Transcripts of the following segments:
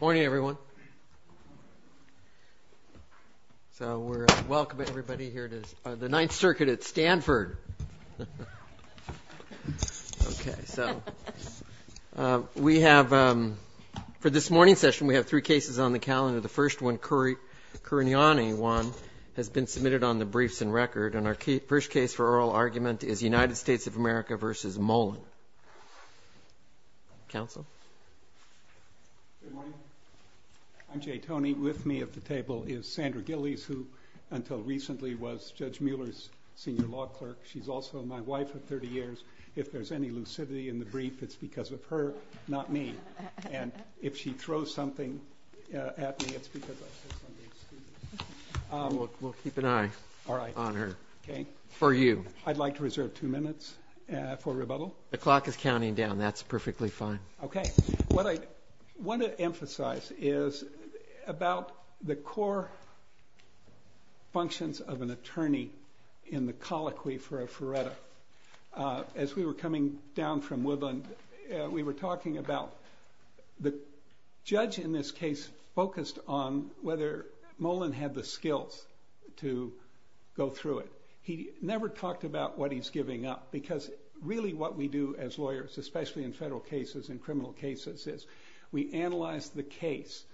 Morning everyone. So we're welcoming everybody here to the Ninth Circuit at Stanford. Okay so we have for this morning session we have three cases on the calendar. The first one, Kouriani one, has been submitted on the briefs and record and our first case for oral argument is United States of I'm Jay Tony. With me at the table is Sandra Gillies who until recently was Judge Mueller's senior law clerk. She's also my wife of 30 years. If there's any lucidity in the brief it's because of her, not me. And if she throws something at me it's because I said something stupid. We'll keep an eye on her. Okay. For you. I'd like to reserve two minutes for rebuttal. The clock is counting down that's perfectly fine. Okay. What I want to emphasize is about the core functions of an attorney in the colloquy for a Ferretta. As we were coming down from Woodland we were talking about the judge in this case focused on whether Molen had the skills to go through it. He never talked about what he's giving up because really what we do as lawyers, especially in federal cases and criminal cases, is we analyze the case.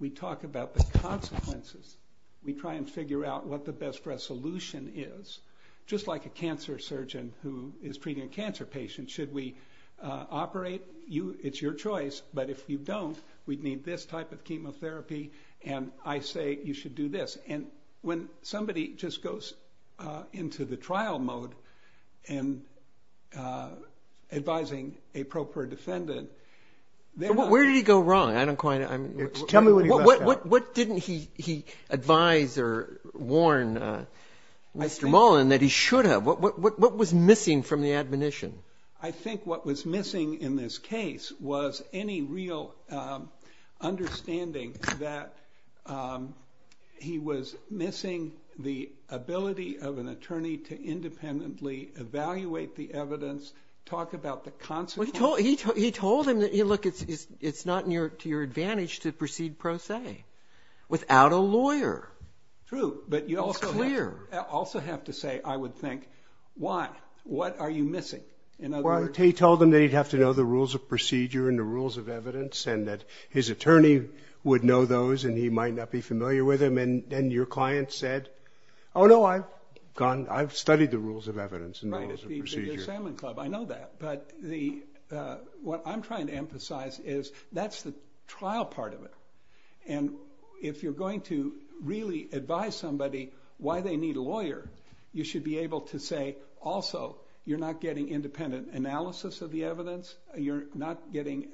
We talk about the consequences. We try and figure out what the best resolution is. Just like a cancer surgeon who is treating a cancer patient. Should we operate? It's your choice but if you don't we'd need this type of chemotherapy and I say you should do this. And when somebody just goes into the trial mode and advising a proper defendant. Where did he go wrong? I don't quite know. What didn't he advise or warn Mr. Molen that he should have? What was missing from the admonition? I think what was missing in this case was any real understanding that he was missing the ability of an attorney to independently evaluate the evidence. Talk about the consequences. He told him that it's not near to your advantage to proceed pro se without a lawyer. True but you also have to say I would think why? What are you missing? He told him that he'd have to know the rules of procedure and the rules of evidence and that his attorney would know those and he might not be familiar with them and then your client said oh no I've gone I've studied the rules of evidence. I know that but what I'm trying to emphasize is that's the trial part of it and if you're going to really advise somebody why they need a lawyer you should be able to say also you're not getting independent analysis of the evidence. You're not getting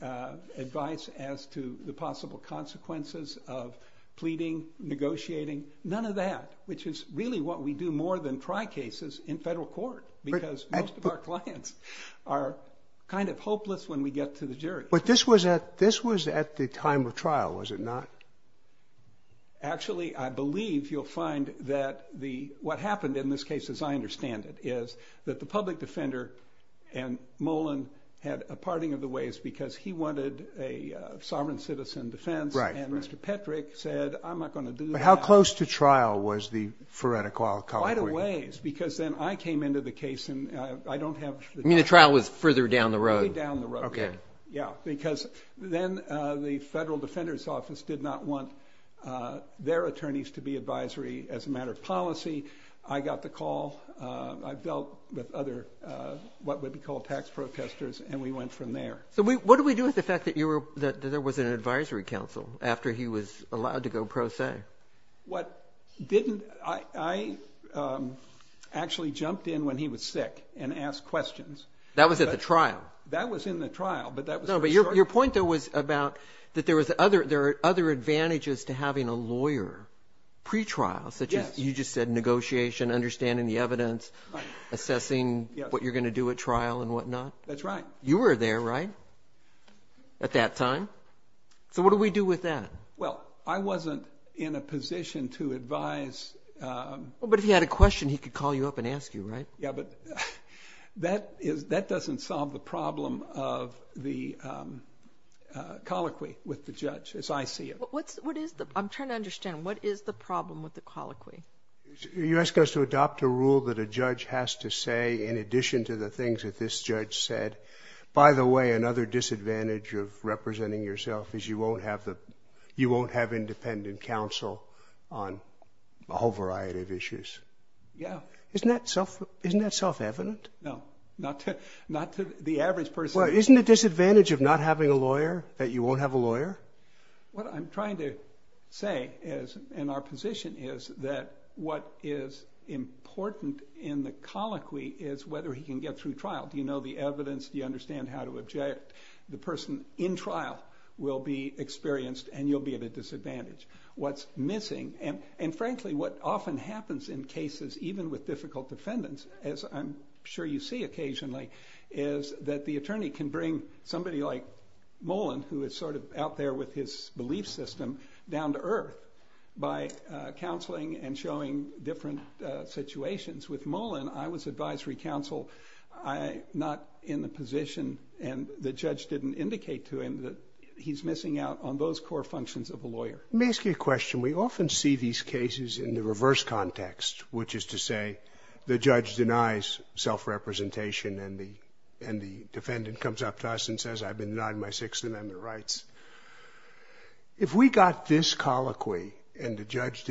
advice as to the possible consequences of pleading negotiating none of that which is really what we do more than try cases in federal court because most of our clients are kind of hopeless when we get to the jury. But this was at this was at the time of trial was it not? Actually I believe you'll find that the what happened in this case as I understand it is that the public defender and Molen had a parting of the ways because he How close to trial was the Frederick? Quite a ways because then I came into the case and I don't have I mean the trial was further down the road. Yeah because then the federal defender's office did not want their attorneys to be advisory as a matter of policy I got the call I dealt with other what would be called tax protesters and we went from there. So what do we do with the fact that you were that there was an pro se? What didn't I actually jumped in when he was sick and asked questions. That was at the trial. That was in the trial but that was your point that was about that there was other there are other advantages to having a lawyer pre-trial such as you just said negotiation understanding the evidence assessing what you're gonna do at trial and whatnot. That's right. You were there right at that time. So what do we do with that? Well I wasn't in a position to advise. But if you had a question he could call you up and ask you right? Yeah but that is that doesn't solve the problem of the colloquy with the judge as I see it. What is the I'm trying to understand what is the problem with the colloquy? You ask us to adopt a rule that a judge has to say in addition to the another disadvantage of representing yourself is you won't have the you won't have independent counsel on a whole variety of issues. Yeah. Isn't that self isn't that self-evident? No not to not to the average person. Well isn't the disadvantage of not having a lawyer that you won't have a lawyer? What I'm trying to say is in our position is that what is important in the colloquy is whether he can get through trial. Do you know the evidence? Do you understand how to object? The person in trial will be experienced and you'll be at a disadvantage. What's missing and and frankly what often happens in cases even with difficult defendants as I'm sure you see occasionally is that the attorney can bring somebody like Mullen who is sort of out there with his belief system down to earth by counseling and showing different situations. With Mullen I was advisory counsel. I'm not in the position and the judge didn't indicate to him that he's missing out on those core functions of a lawyer. Let me ask you a question. We often see these cases in the reverse context which is to say the judge denies self-representation and the and the defendant comes up to us and says I've been denied my Sixth Amendment rights. If we got this colloquy and the judge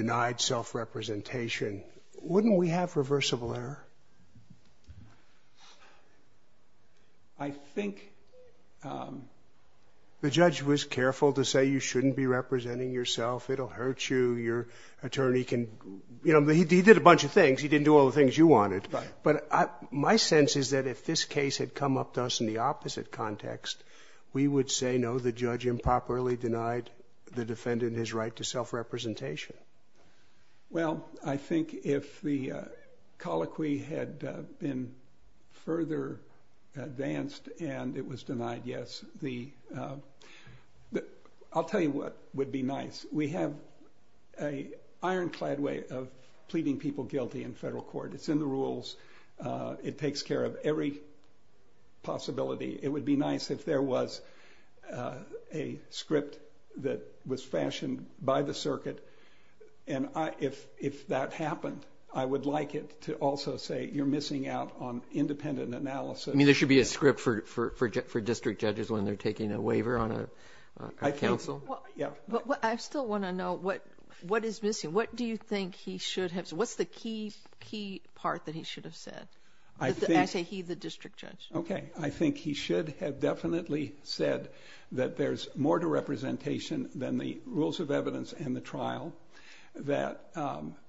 was careful to say you shouldn't be representing yourself it'll hurt you your attorney can you know he did a bunch of things he didn't do all the things you wanted but my sense is that if this case had come up to us in the opposite context we would say no the judge improperly denied the defendant in his right to self-representation. Well I think if the colloquy had been further advanced and it was denied yes the I'll tell you what would be nice we have a ironclad way of pleading people guilty in federal court it's in the rules it takes care of every possibility it would be nice if there was a script that was fashioned by the circuit and I if if that happened I would like it to also say you're missing out on independent analysis. I mean there should be a script for for district judges when they're taking a waiver on a counsel. I still want to know what what is missing what do you think he should have what's the key key part that he should have said? I say he the district judge. Okay I think he should have definitely said that there's more to representation than the rules of evidence and the trial that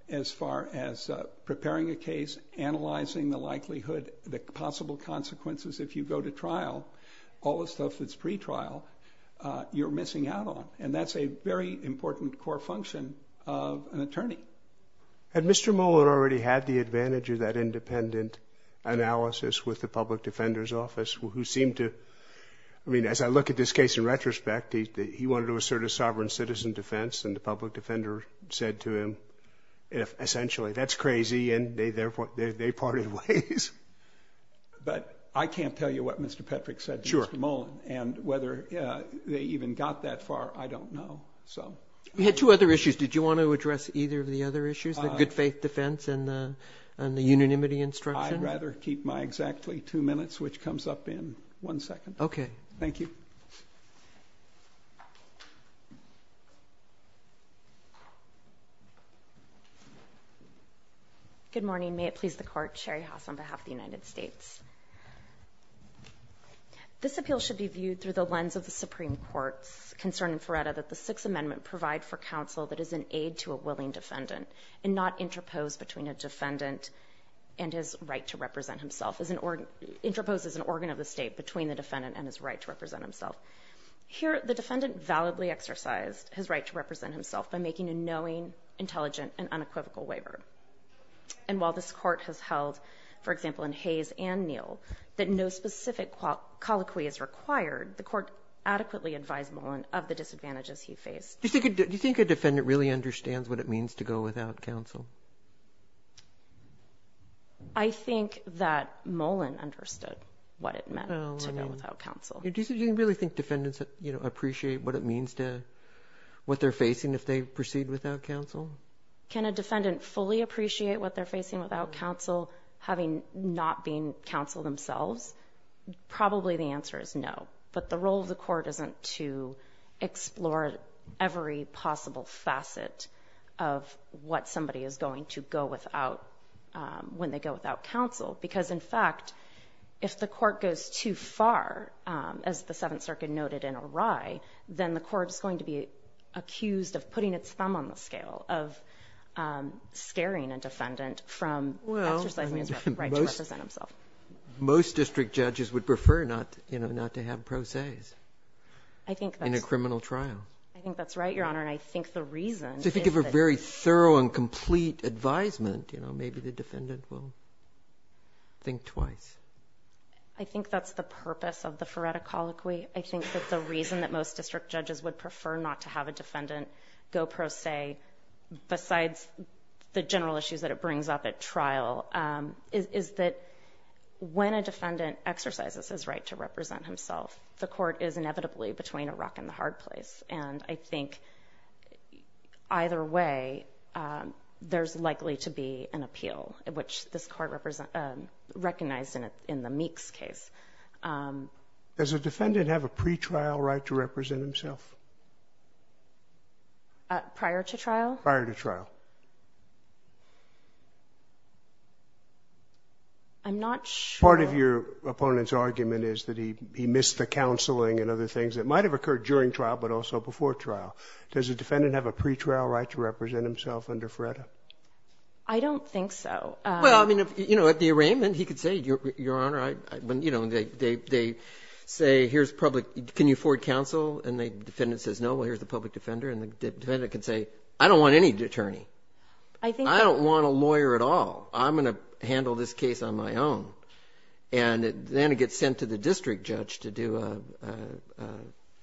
as far as preparing a case analyzing the likelihood the possible consequences if you go to trial all the stuff that's pre trial you're missing out on and that's a very important core function of an attorney. Had Mr. Mueller already had the advantage of that independent analysis with the Public Defender's Office who seemed to I mean as I look at this case in retrospect he wanted to assert a sovereign citizen defense and the Public Defender said to him essentially that's crazy and they therefore they parted ways. But I can't tell you what Mr. Petrick said to Mr. Mullen and whether they even got that far I don't know so. You had two other issues did you want to address either of the other issues the good faith defense and the unanimity instruction? I'd rather keep my exactly two minutes which comes up in one second. Okay. Thank you. Good morning may it please the court Sherry Haas on behalf of the United States. This appeal should be viewed through the lens of the Supreme Court's concern in Feretta that the Sixth Amendment provide for counsel that is an aid to a willing defendant and not interposed between a defendant and his right to represent himself as an organ interposed as an organ of the state between the defendant and his right to represent himself. Here the defendant validly exercised his right to represent himself by making a knowing intelligent and unequivocal waiver and while this court has held for example in Hayes and Neal that no specific colloquy is required the court adequately advised Mullen of the disadvantages he faced. Do you think a defendant really understands what it means to go without counsel? I think that Mullen understood what it meant to go without counsel. Do you really think defendants that you know appreciate what it means to what they're facing if they proceed without counsel? Can a defendant fully appreciate what they're facing without counsel having not being counsel themselves? Probably the answer is no but the role of the court isn't to explore every possible facet of what somebody is going to go without when they go without counsel because in fact if the court goes too far as the Seventh Circuit noted in O'Reilly then the court is going to be accused of putting its thumb on the scale of scaring a defendant from exercising his right to represent himself. Most district judges would prefer not you I think that's right your honor and I think the reason if you give a very thorough and complete advisement you know maybe the defendant will think twice. I think that's the purpose of the Ferretta colloquy. I think that the reason that most district judges would prefer not to have a defendant go pro se besides the general issues that it brings up at trial is that when a defendant goes pro se he's inevitably between a rock and the hard place and I think either way there's likely to be an appeal which this court recognized in the Meeks case. Does a defendant have a pretrial right to represent himself? Prior to trial? Prior to trial. I'm not sure. Part of your opponent's that he missed the counseling and other things that might have occurred during trial but also before trial. Does a defendant have a pretrial right to represent himself under Ferretta? I don't think so. Well I mean you know at the arraignment he could say your honor I mean you know they say here's public can you afford counsel and the defendant says no well here's the public defender and the defendant could say I don't want any attorney. I think I don't want a lawyer at all I'm gonna handle this case on my own and then it gets sent to the district judge to do a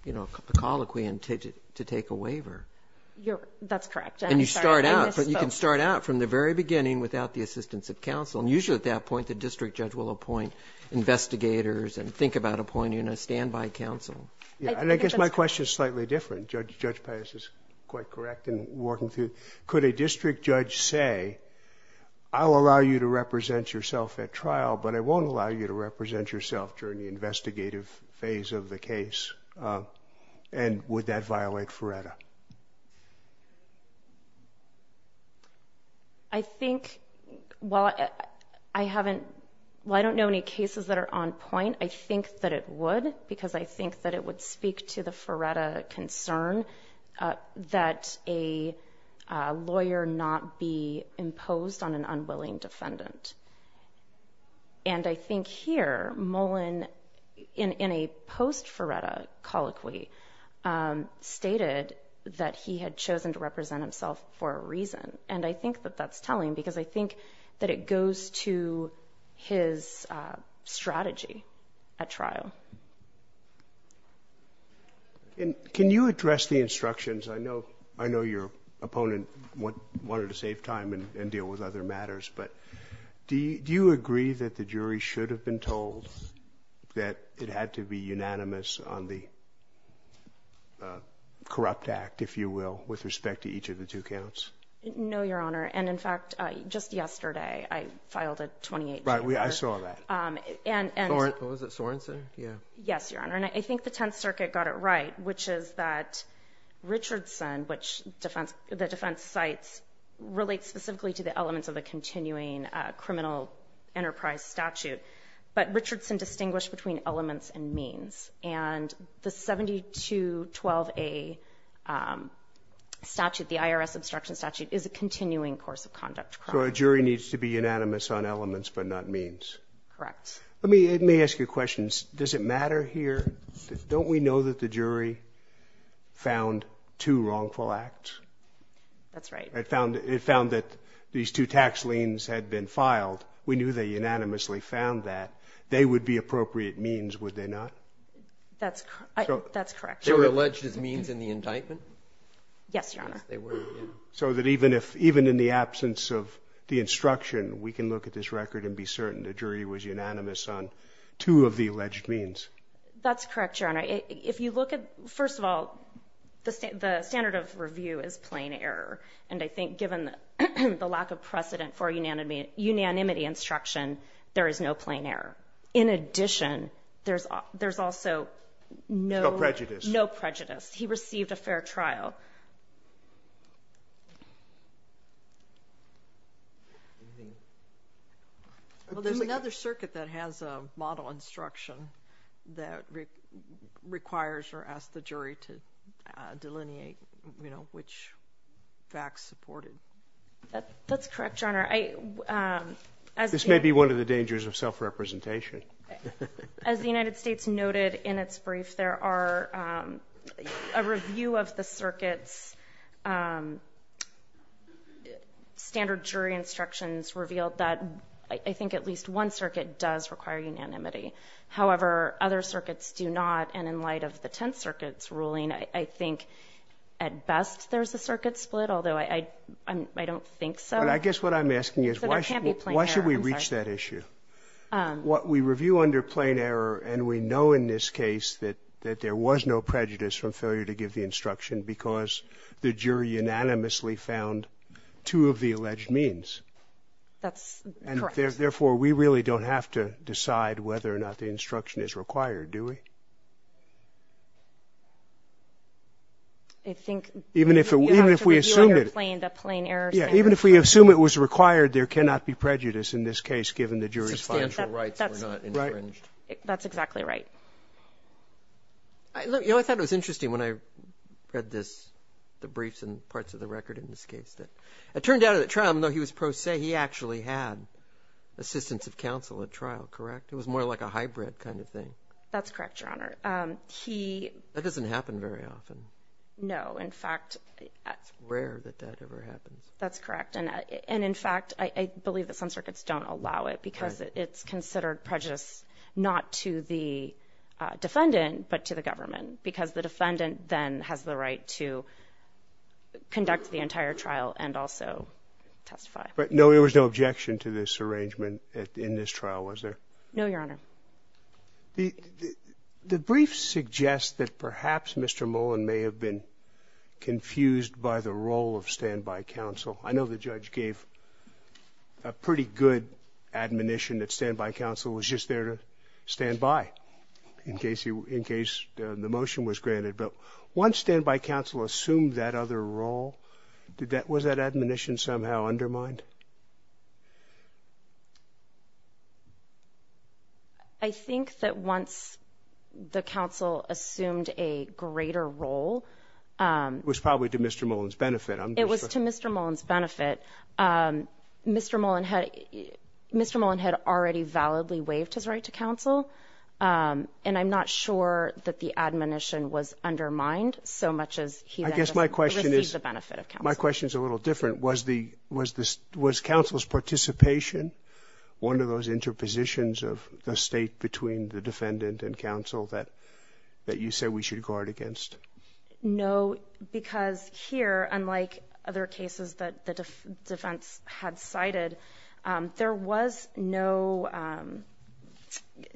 you know a colloquy and to take a waiver. That's correct. And you start out but you can start out from the very beginning without the assistance of counsel and usually at that point the district judge will appoint investigators and think about appointing a standby counsel. Yeah and I guess my question is slightly different. Judge Pius is quite correct in working through. Could a district judge say I'll allow you to represent yourself at trial but I won't allow you to represent yourself during the investigative phase of the case and would that violate Ferretta? I think well I haven't well I don't know any cases that are on point I think that it would because I think that it would speak to the Ferretta concern that a not be imposed on an unwilling defendant and I think here Mullen in in a post Ferretta colloquy stated that he had chosen to represent himself for a reason and I think that that's telling because I think that it goes to his strategy at trial. And can you address the instructions I know I know your opponent what wanted to save time and deal with other matters but do you agree that the jury should have been told that it had to be unanimous on the corrupt act if you will with respect to each of the two counts? No your honor and in fact just yesterday I filed a 28. Right we I saw that. And was it Sorenson? Yeah yes your honor and I think the Tenth Circuit got it right which is that Richardson which defense the defense sites relate specifically to the elements of a continuing criminal enterprise statute but Richardson distinguished between elements and means and the 72 12a statute the IRS obstruction statute is a continuing course of conduct. So a jury needs to be unanimous on elements but not means? Correct. Let me let me ask you questions does it matter here don't we know that the jury found two wrongful acts? That's right. It found it found that these two tax liens had been filed we knew they unanimously found that they would be appropriate means would they not? That's that's correct. They were alleged as means in the indictment? Yes your honor. So that even if even in the absence of the instruction we can look at this record and be certain the jury was unanimous on two of the alleged means? That's correct your honor. If you look at first of all the standard of review is plain error and I think given the lack of precedent for unanimity unanimity instruction there is no plain error. In addition there's there's also no prejudice no prejudice he received a Well there's another circuit that has a model instruction that requires or ask the jury to delineate you know which facts supported. That's correct your honor. This may be one of the dangers of self-representation. As the United States noted in its brief there are a review of the circuits standard jury instructions revealed that I think at least one circuit does require unanimity. However other circuits do not and in light of the Tenth Circuit's ruling I think at best there's a circuit split although I don't think so. I guess what I'm asking is why should we reach that issue? What we review under plain error and we know in this case that that there was no prejudice from failure to give the instruction because the jury unanimously found two of the alleged means. That's correct. Therefore we really don't have to decide whether or not the instruction is required do we? Even if we assume it was required there cannot be That's exactly right. I thought it was interesting when I read this the briefs and parts of the record in this case that it turned out at trial though he was pro se he actually had assistance of counsel at trial correct? It was more like a hybrid kind of thing. That's correct your honor. That doesn't happen very often. No in fact that's rare that that ever happens. That's correct and in fact I believe that some circuits don't allow it because it's prejudice not to the defendant but to the government because the defendant then has the right to conduct the entire trial and also testify. But no there was no objection to this arrangement in this trial was there? No your honor. The briefs suggest that perhaps Mr. Mullen may have been confused by the role of standby counsel. I know the judge gave a pretty good admonition that standby counsel was just there to stand by in case you in case the motion was granted but once standby counsel assumed that other role did that was that admonition somehow undermined? I think that once the counsel assumed a greater role. It was probably to Mr. Mullen's benefit. It was to Mr. Mullen's benefit. Mr. Mullen had Mr. Mullen had already validly waived his right to counsel and I'm not sure that the admonition was undermined so much as he I guess my question is the benefit of counsel. My question is a little different was the was this was counsel's participation one of those interpositions of the state between the defendant and counsel that that you say we should guard against? No because here unlike other cases that the defense had cited there was no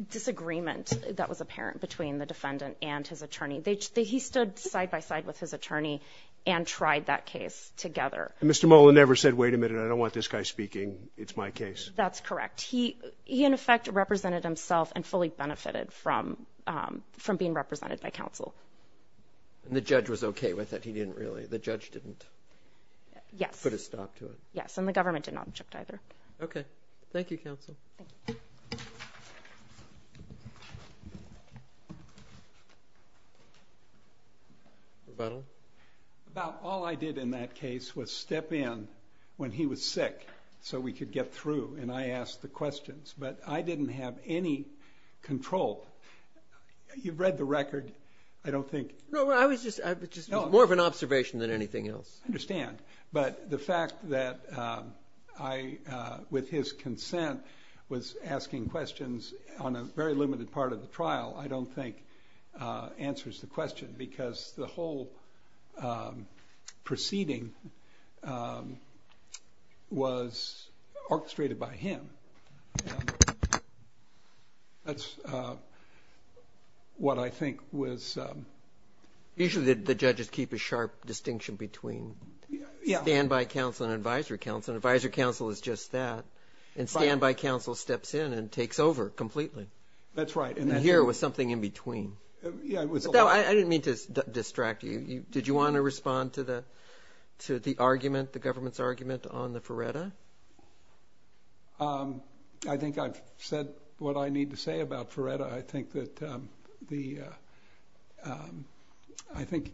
disagreement that was apparent between the defendant and his attorney. They he stood side-by-side with his attorney and tried that case together. Mr. Mullen never said wait a minute I don't want this guy speaking it's my case? That's correct he he in effect represented himself and fully benefited from from being represented by counsel. And the judge was okay with it he didn't really the judge didn't? Yes. Put a stop to it? Yes and the government did not object either. Okay thank you counsel. About all I did in that case was step in when he was sick so we could get through and I asked the questions but I didn't have any control. You've read the record I don't think. No I was just more of an observation than anything else. I understand but the fact that I with his consent was asking questions on a very limited part of the trial I don't think answers the question because the what I think was. Usually the judges keep a sharp distinction between yeah standby counsel and advisory counsel and advisory counsel is just that and standby counsel steps in and takes over completely. That's right. And here was something in between. I didn't mean to distract you you did you want to respond to the to the argument the government's argument on the Ferretta? I think I've what I need to say about Ferretta I think that the I think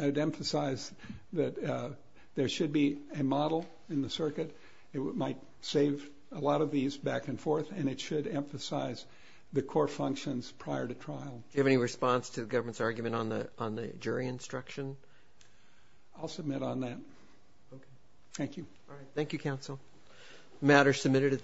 I'd emphasize that there should be a model in the circuit it might save a lot of these back and forth and it should emphasize the core functions prior to trial. Do you have any response to the government's argument on the on the jury instruction? I'll submit on that. Okay thank you. All right thank you counsel. Matter submitted at